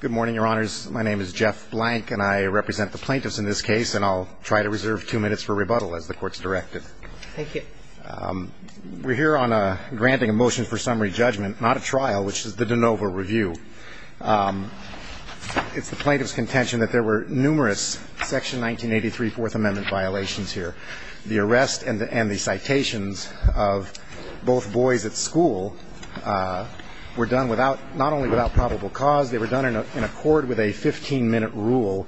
Good morning, your honors. My name is Jeff Blank, and I represent the plaintiffs in this case, and I'll try to reserve two minutes for rebuttal as the court's directed. Thank you. We're here on a granting a motion for summary judgment, not a trial, which is the de novo review. It's the plaintiff's contention that there were numerous section 1983 Fourth Amendment violations here. The arrest and the and the citations of both boys at school were done without not only without probable cause, they were done in accord with a 15-minute rule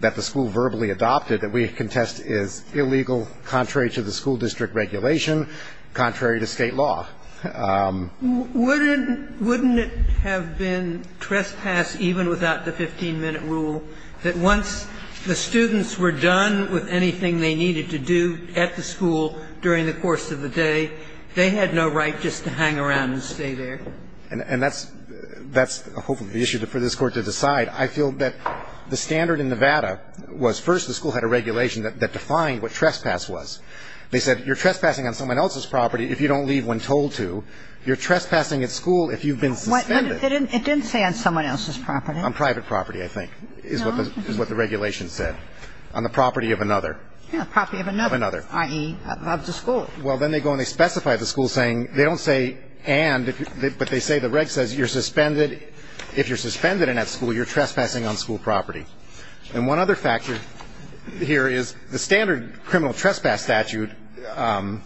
that the school verbally adopted that we contest as illegal, contrary to the school district regulation, contrary to state law. Wouldn't it have been trespass even without the 15-minute rule that once the students were done with anything they needed to do at the school during the course of the day, they had no right just to hang around and stay there? And that's hopefully the issue for this Court to decide. I feel that the standard in Nevada was first the school had a regulation that defined what trespass was. They said you're trespassing on someone else's property if you don't leave when told to, you're trespassing at school if you've been suspended. It didn't say on someone else's property. On private property, I think, is what the regulation said. On the property of another. Yeah, property of another, i.e., of the school. Well, then they go and they specify the school saying, they don't say and, but they say the reg says you're suspended, if you're suspended in that school, you're trespassing on school property. And one other factor here is the standard criminal trespass statute,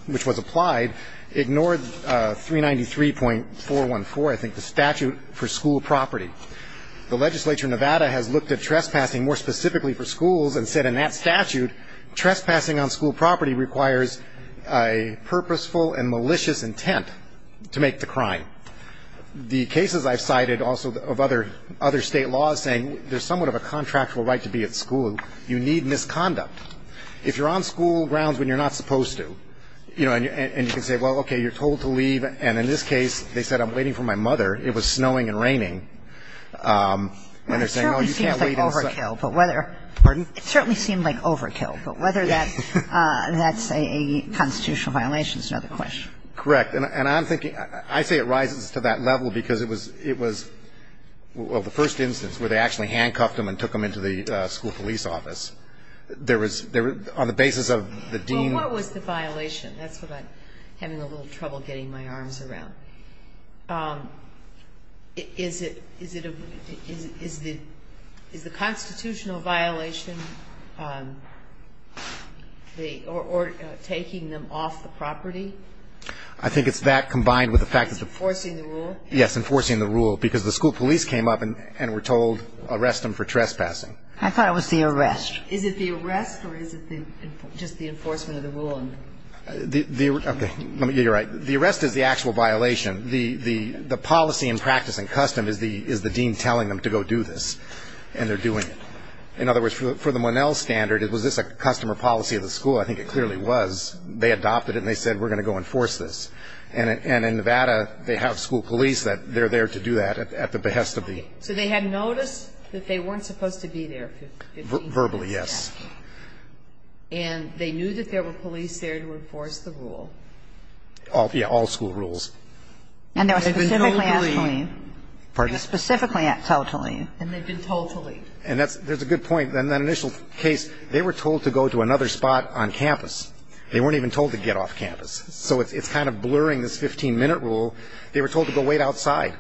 which was applied, ignored 393.414, I think, the statute for school property. The legislature in Nevada has looked at trespassing more specifically for schools and said in that statute, trespassing on school property requires a purposeful and malicious intent to make the crime. The cases I've cited also of other state laws saying there's somewhat of a contractual right to be at school, you need misconduct. If you're on school grounds when you're not supposed to, you know, and you can say, well, okay, you're told to leave, and in this case, they said I'm waiting for my mother, it was snowing and raining, and they're saying, oh, you can't wait. And so, I think the statute, although it's not overkill, but whether it certainly seemed like overkill, but whether that's a constitutional violation is another question. Correct. And I'm thinking, I say it rises to that level because it was, it was, well, the first instance where they actually handcuffed him and took him into the school police office, there was, on the basis of the dean. Well, what was the violation? That's what I'm having a little trouble getting my arms around. Is it, is it a, is the constitutional violation the, or taking them off the property? I think it's that combined with the fact that the. Enforcing the rule? Yes, enforcing the rule, because the school police came up and were told arrest them for trespassing. I thought it was the arrest. Is it the arrest or is it the, just the enforcement of the rule? The, the, okay, you're right. The arrest is the actual violation. The, the, the policy and practice and custom is the, is the dean telling them to go do this, and they're doing it. In other words, for the, for the Monell standard, was this a customer policy of the school? I think it clearly was. They adopted it and they said, we're going to go enforce this. And, and in Nevada, they have school police that, they're there to do that at, at the behest of the. So they had notice that they weren't supposed to be there. Verbally, yes. And they knew that there were police there to enforce the rule. All, yeah, all school rules. And they were specifically asked to leave. Pardon? Specifically asked to leave. And they've been told to leave. And that's, there's a good point. In that initial case, they were told to go to another spot on campus. They weren't even told to get off campus. So it's, it's kind of blurring this 15-minute rule. They were told to go wait outside.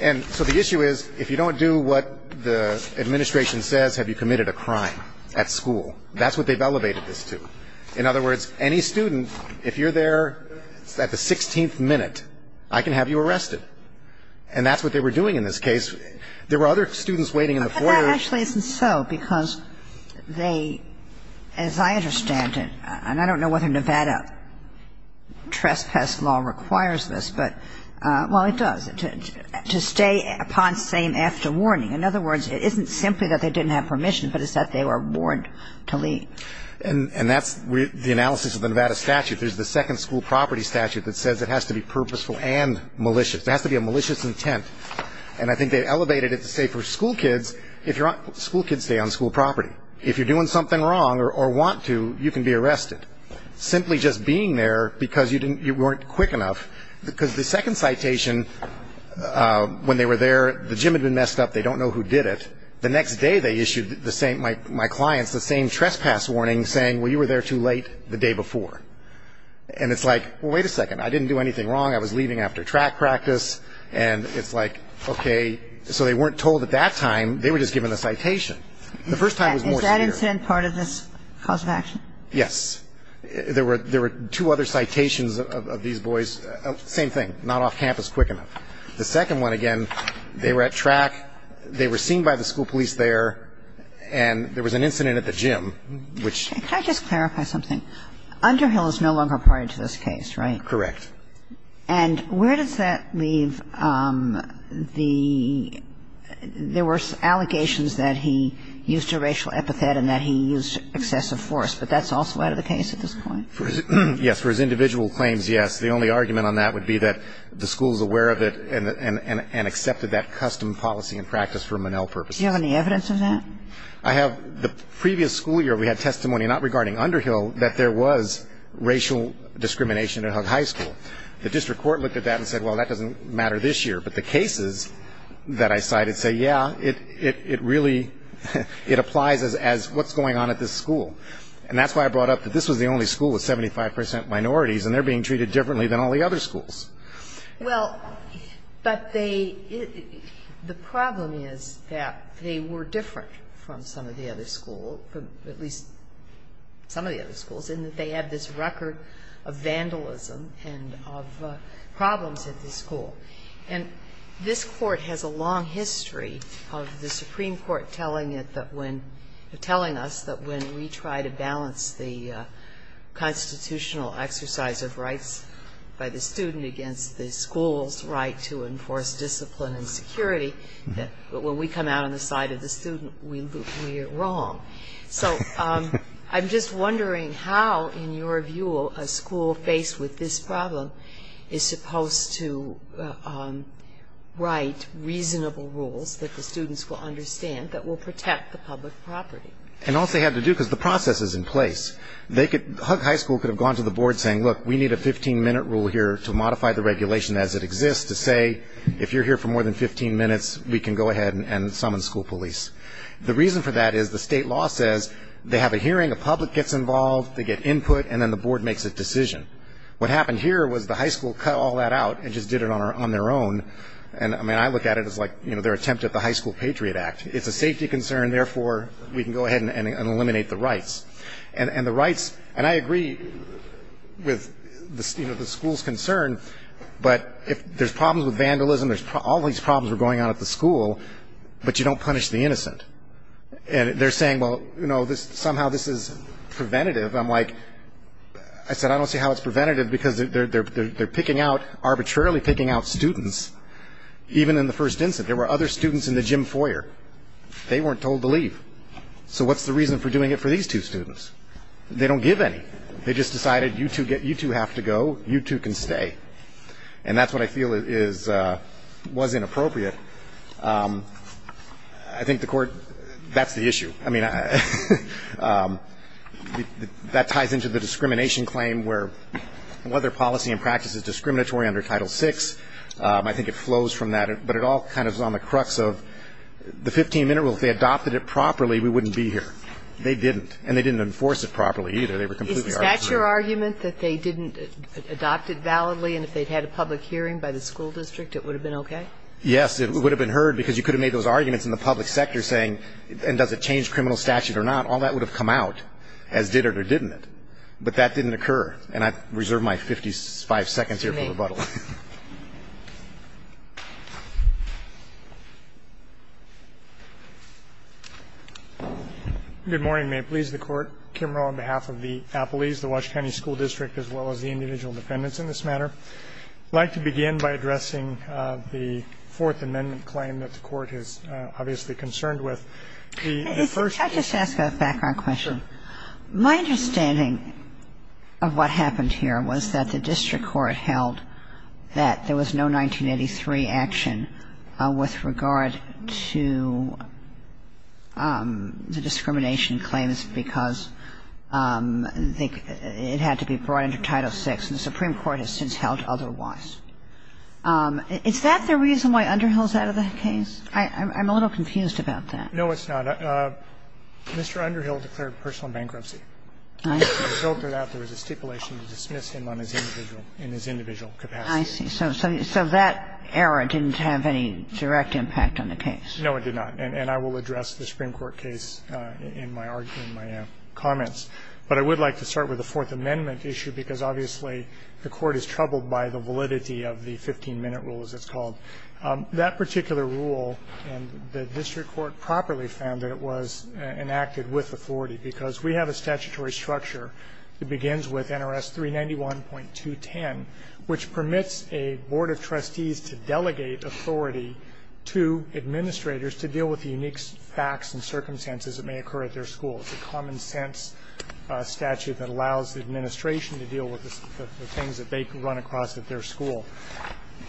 And so the issue is, if you don't do what the administration says, have you committed a crime? And if you don't do what the administration says, have you committed a crime? And if you don't do what the administration says, have you committed a crime at school? That's what they've elevated this to. In other words, any student, if you're there at the 16th minute, I can have you arrested. And that's what they were doing in this case. There were other students waiting in the foyer. But that actually isn't so, because they, as I understand it, and I don't know whether And, and that's the analysis of the Nevada statute. There's the second school property statute that says it has to be purposeful and malicious. It has to be a malicious intent. And I think they elevated it to say for school kids, if you're on, school kids stay on school property. If you're doing something wrong or want to, you can be arrested. Simply just being there because you didn't, you weren't quick enough. Because the second citation, when they were there, the gym had been messed up. They don't know who did it. The next day they issued the same, my clients, the same trespass warning saying, well, you were there too late the day before. And it's like, well, wait a second. I didn't do anything wrong. I was leaving after track practice. And it's like, okay. So they weren't told at that time. They were just given a citation. The first time was more severe. Is that incident part of this cause of action? Yes. There were two other citations of these boys. Same thing. Not off campus quick enough. The second one, again, they were at track. They were seen by the school police there. And there was an incident at the gym. Can I just clarify something? Underhill is no longer a party to this case, right? Correct. And where does that leave the, there were allegations that he used a racial epithet and that he used excessive force. But that's also out of the case at this point? Yes. For his individual claims, yes. The only argument on that would be that the school is aware of it and accepted that custom policy and practice for Monell purposes. Do you have any evidence of that? I have, the previous school year we had testimony, not regarding Underhill, that there was racial discrimination at Hug High School. The district court looked at that and said, well, that doesn't matter this year. But the cases that I cited say, yeah, it really, it applies as what's going on at this school. And that's why I brought up that this was the only school with 75% minorities and they're being treated differently than all the other schools. Well, but they, the problem is that they were different from some of the other schools, at least some of the other schools, in that they had this record of vandalism and of problems at this school. And this court has a long history of the Supreme Court telling it that when, telling us that when we try to balance the constitutional exercise of rights by the student against the school's right to enforce discipline and security, that when we come out on the side of the student, we are wrong. So I'm just wondering how, in your view, a school faced with this problem is supposed to write reasonable rules that the students will understand, that will protect the public property. And also have to do, because the process is in place. They could, Hug High School could have gone to the board saying, look, we need a 15-minute rule here to modify the regulation as it exists to say if you're here for more than 15 minutes, we can go ahead and summon school police. The reason for that is the state law says they have a hearing, the public gets involved, they get input, and then the board makes a decision. What happened here was the high school cut all that out and just did it on their own. And I mean, I look at it as like, you know, their attempt at the High School Patriot Act. It's a safety concern, therefore we can go ahead and eliminate the rights. And the rights, and I agree with, you know, the school's concern, but if there's problems with vandalism, all these problems are going on at the school, but you don't punish the innocent. And they're saying, well, you know, somehow this is preventative. I'm like, I said, I don't see how it's preventative because they're picking out, arbitrarily picking out students, even in the first instance. There were other students in the gym foyer. They weren't told to leave. So what's the reason for doing it for these two students? They don't give any. They just decided you two have to go, you two can stay. And that's what I feel is, was inappropriate. I think the court, that's the issue. I mean, that ties into the discrimination claim where, whether policy and practice is discriminatory under Title VI. I think it flows from that, but it all kind of is on the crux of the 15-minute rule. If they adopted it properly, we wouldn't be here. They didn't. And they didn't enforce it properly either. They were completely arbitrary. Is that your argument, that they didn't adopt it validly, and if they'd had a public hearing by the school district, it would have been okay? Yes. It would have been heard because you could have made those arguments in the public sector saying, and does it change criminal statute or not? All that would have come out, as did it or didn't it. But that didn't occur. And I reserve my 55 seconds here for rebuttal. Good morning. May it please the Court. Kim Rowe, on behalf of the Appalese, the Wash County School District, as well as the individual defendants in this matter. I'd like to begin by addressing the Fourth Amendment claim that the Court is obviously concerned with. The first ---- Can I just ask a background question? Sure. My understanding of what happened here was that the district court held that the district court held that there was no 1983 action with regard to the discrimination claims because it had to be brought into Title VI, and the Supreme Court has since held otherwise. Is that the reason why Underhill is out of the case? I'm a little confused about that. No, it's not. Mr. Underhill declared personal bankruptcy. I see. It was filtered out. There was a stipulation to dismiss him on his individual ---- in his individual capacity. I see. So that error didn't have any direct impact on the case. No, it did not. And I will address the Supreme Court case in my argument, in my comments. But I would like to start with the Fourth Amendment issue because obviously the Court is troubled by the validity of the 15-minute rule, as it's called. That particular rule, and the district court properly found that it was enacted with authority because we have a statutory structure that begins with NRS 391.210, which permits a board of trustees to delegate authority to administrators to deal with the unique facts and circumstances that may occur at their school. It's a common-sense statute that allows the administration to deal with the things that they can run across at their school.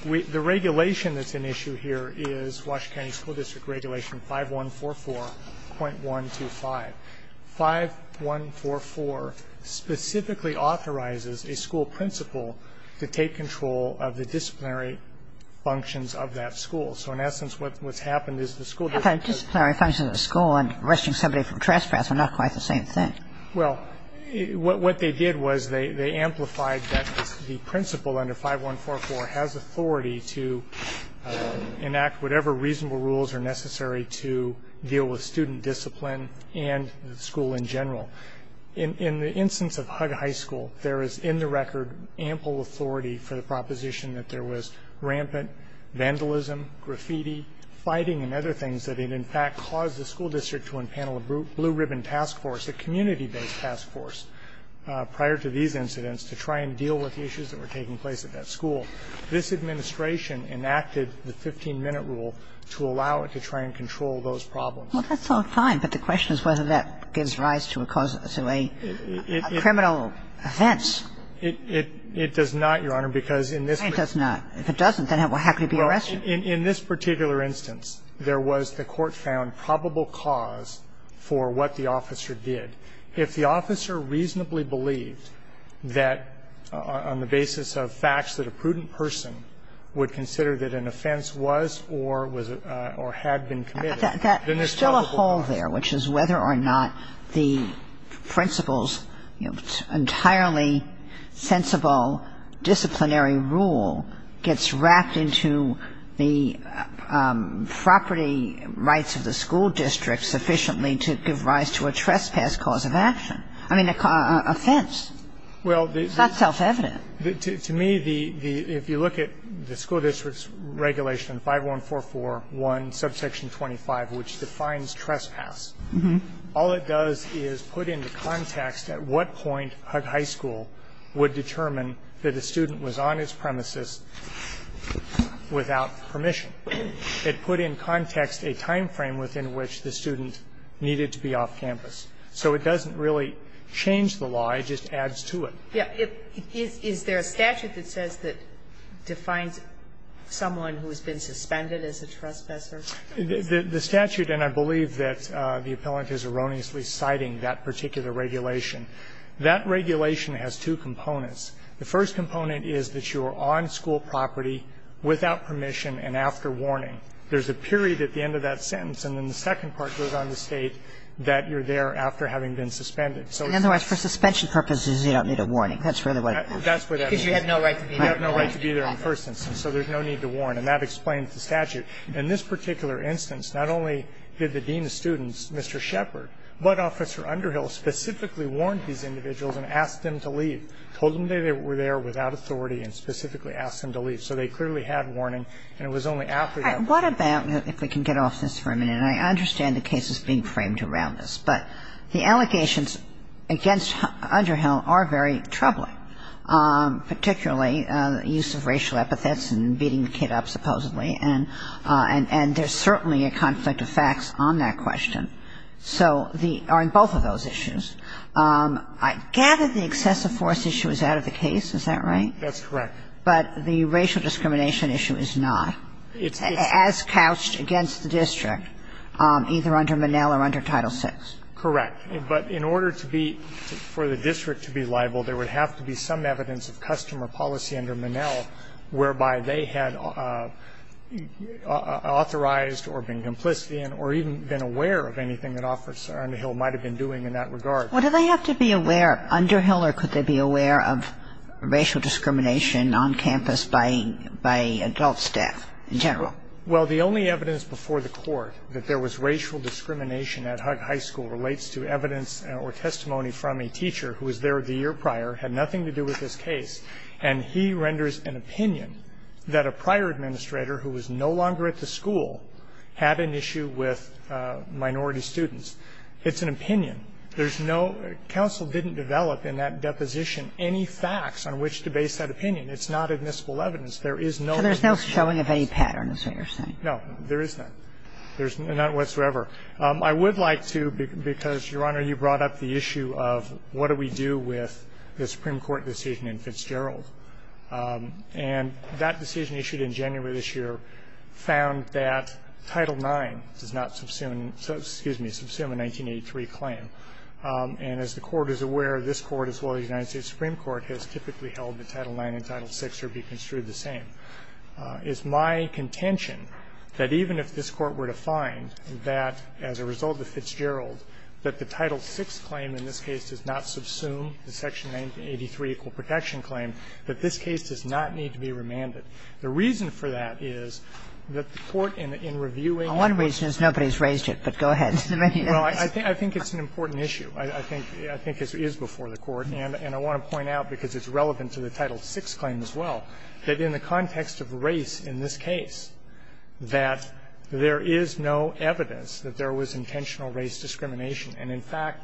The regulation that's an issue here is Washington County School District Regulation 5144.125. 5144 specifically authorizes a school principal to take control of the disciplinary functions of that school. So in essence, what's happened is the school ---- How about disciplinary functions of the school and arresting somebody from trespass are not quite the same thing. Well, what they did was they amplified that the principal under 5144 has authority to enact whatever reasonable rules are necessary to deal with student discipline and the school in general. In the instance of Hug High School, there is, in the record, ample authority for the proposition that there was rampant vandalism, graffiti, fighting, and other things that had in fact caused the school district to unpanel a blue ribbon task force, a community-based task force, prior to these incidents, to try and deal with the issues that were taking place at that school. This administration enacted the 15-minute rule to allow it to try and control those problems. Well, that's all fine, but the question is whether that gives rise to a criminal offense. It does not, Your Honor, because in this case ---- It does not. If it doesn't, then it will have to be arrested. In this particular instance, there was, the court found, probable cause for what the officer did. If the officer reasonably believed that, on the basis of facts, that a prudent person would consider that an offense was or was or had been committed, then there's probable cause. There's still a hole there, which is whether or not the principal's entirely sensible disciplinary rule gets wrapped into the property rights of the school So the question is whether or not there is a probable cause of action. I mean, an offense. It's not self-evident. To me, if you look at the school district's regulation, 5144.1, subsection 25, which defines trespass, all it does is put into context at what point Hug High School would determine that a student was on its premises without permission. It put in context a time frame within which the student needed to be off campus. So it doesn't really change the law. It just adds to it. Is there a statute that says that defines someone who has been suspended as a trespasser? The statute, and I believe that the appellant is erroneously citing that particular regulation, that regulation has two components. The first component is that you are on school property without permission and after warning. There's a period at the end of that sentence, and then the second part goes on to indicate that you're there after having been suspended. So it's... In other words, for suspension purposes, you don't need a warning. That's really what it is. That's what that means. Because you have no right to be there. You have no right to be there in the first instance, so there's no need to warn. And that explains the statute. In this particular instance, not only did the dean of students, Mr. Shepard, but Officer Underhill specifically warned these individuals and asked them to leave, told them they were there without authority and specifically asked them to leave. So they clearly had warning, and it was only after that... What about, if we can get off this for a minute, and I understand the case is being framed around this, but the allegations against Underhill are very troubling, particularly the use of racial epithets and beating the kid up, supposedly, and there's certainly a conflict of facts on that question. So the – on both of those issues. I gather the excessive force issue is out of the case. Is that right? But the racial discrimination issue is not. It's not. As couched against the district, either under Monell or under Title VI. Correct. But in order to be – for the district to be liable, there would have to be some evidence of customer policy under Monell whereby they had authorized or been complicit in or even been aware of anything that Officer Underhill might have been doing in that regard. What do they have to be aware of? Underhill or could they be aware of racial discrimination on campus by adult staff in general? Well, the only evidence before the court that there was racial discrimination at Hug High School relates to evidence or testimony from a teacher who was there the year prior, had nothing to do with this case, and he renders an opinion that a prior administrator who was no longer at the school had an issue with minority students. It's an opinion. There's no – counsel didn't develop in that deposition any facts on which to base that opinion. It's not admissible evidence. There is no evidence. So there's no showing of any pattern is what you're saying? No, there is none. There's none whatsoever. I would like to, because, Your Honor, you brought up the issue of what do we do with the Supreme Court decision in Fitzgerald. And that decision issued in January of this year found that Title IX does not subsume – excuse me, subsume a 1983 claim. And as the Court is aware, this Court as well as the United States Supreme Court has typically held that Title IX and Title VI are to be construed the same. It's my contention that even if this Court were to find that, as a result of Fitzgerald, that the Title VI claim in this case does not subsume the section 1983 equal protection claim, that this case does not need to be remanded. The reason for that is that the Court in reviewing the court's – Well, one reason is nobody's raised it, but go ahead. Well, I think it's an important issue. I think it is before the Court. And I want to point out, because it's relevant to the Title VI claim as well, that in the context of race in this case, that there is no evidence that there was intentional race discrimination. And, in fact,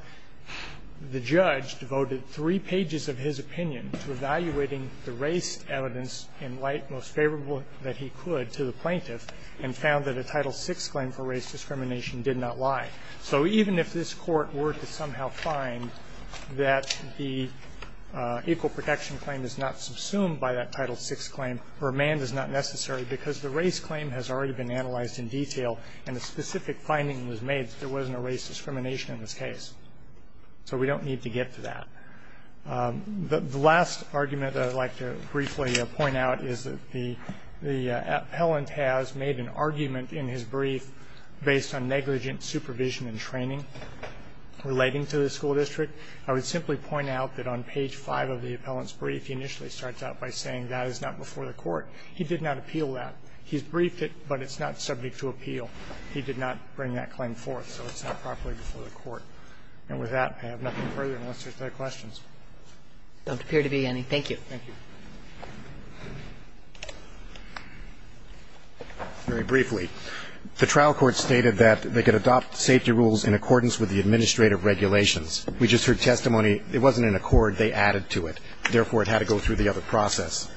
the judge devoted three pages of his opinion to evaluating the race evidence in light most favorable that he could to the plaintiff and found that a Title VI claim for race discrimination did not lie. So even if this Court were to somehow find that the equal protection claim is not subsumed by that Title VI claim, remand is not necessary because the race claim has already been analyzed in detail and a specific finding was made that there wasn't a race discrimination in this case. So we don't need to get to that. The last argument I'd like to briefly point out is that the appellant has made an argument in his brief based on negligent supervision and training relating to the school district. I would simply point out that on page 5 of the appellant's brief, he initially starts out by saying that is not before the Court. He did not appeal that. He's briefed it, but it's not subject to appeal. He did not bring that claim forth, so it's not properly before the Court. And with that, I have nothing further unless there's other questions. Don't appear to be any. Thank you. Thank you. Very briefly, the trial court stated that they could adopt safety rules in accordance with the administrative regulations. We just heard testimony. It wasn't an accord. They added to it. Therefore, it had to go through the other process.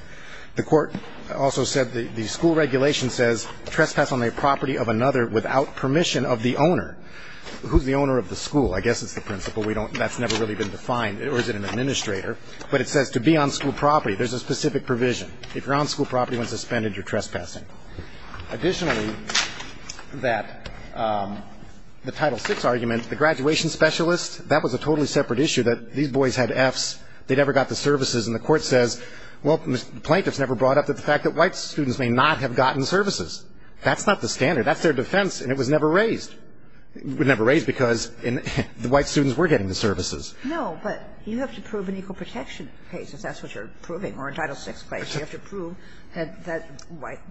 The court also said the school regulation says trespass on a property of another without permission of the owner. Who's the owner of the school? I guess it's the principal. We don't know. That's never really been defined. Or is it an administrator? But it says to be on school property. There's a specific provision. If you're on school property when suspended, you're trespassing. Additionally, that the Title VI argument, the graduation specialist, that was a totally separate issue, that these boys had Fs. They never got the services. And the Court says, well, the plaintiffs never brought up the fact that white students may not have gotten services. That's not the standard. That's their defense, and it was never raised. It was never raised because the white students were getting the services. No, but you have to prove an equal protection case, if that's what you're proving, or a Title VI case. You have to prove that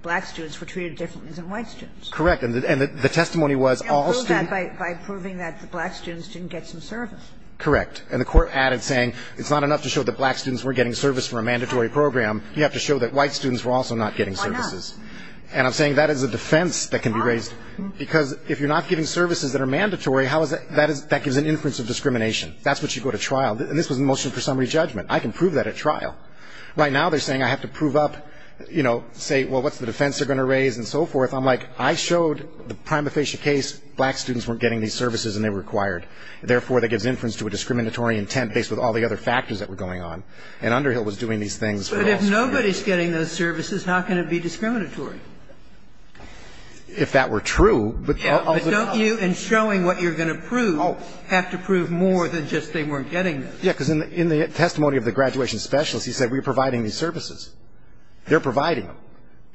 black students were treated differently than white students. Correct. And the testimony was all students You can't prove that by proving that black students didn't get some service. Correct. And the Court added saying it's not enough to show that black students were getting service for a mandatory program. You have to show that white students were also not getting services. Why not? And I'm saying that is a defense that can be raised. Why not? Because if you're not giving services that are mandatory, how is that that gives an inference of discrimination. That's what you go to trial. And this was a motion for summary judgment. I can prove that at trial. Right now they're saying I have to prove up, you know, say, well, what's the defense they're going to raise, and so forth. I'm like, I showed the prima facie case black students weren't getting these services and they were required. Therefore, that gives inference to a discriminatory intent based on all the other factors that were going on. And Underhill was doing these things for all students. But if nobody's getting those services, how can it be discriminatory? If that were true, but also true. And I'm asking you in showing what you're going to prove, have to prove more than just they weren't getting those. Yeah, because in the testimony of the graduation specialist, he said we're providing these services. They're providing them.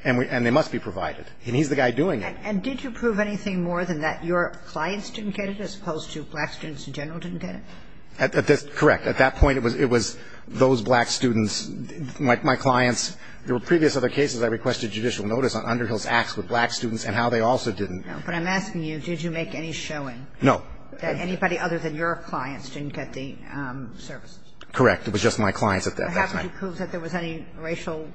And they must be provided. And he's the guy doing it. And did you prove anything more than that? Your clients didn't get it as opposed to black students in general didn't get it? That's correct. At that point, it was those black students, my clients. There were previous other cases I requested judicial notice on Underhill's acts with black students and how they also didn't. But I'm asking you, did you make any showing? No. That anybody other than your clients didn't get the services? Correct. It was just my clients at that time. Why haven't you proved that there was any racial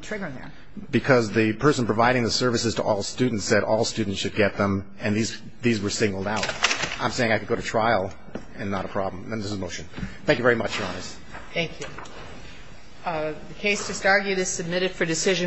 trigger there? Because the person providing the services to all students said all students should get them, and these were singled out. I'm saying I could go to trial and not a problem. And this is a motion. Thank you very much, Your Honors. Thank you.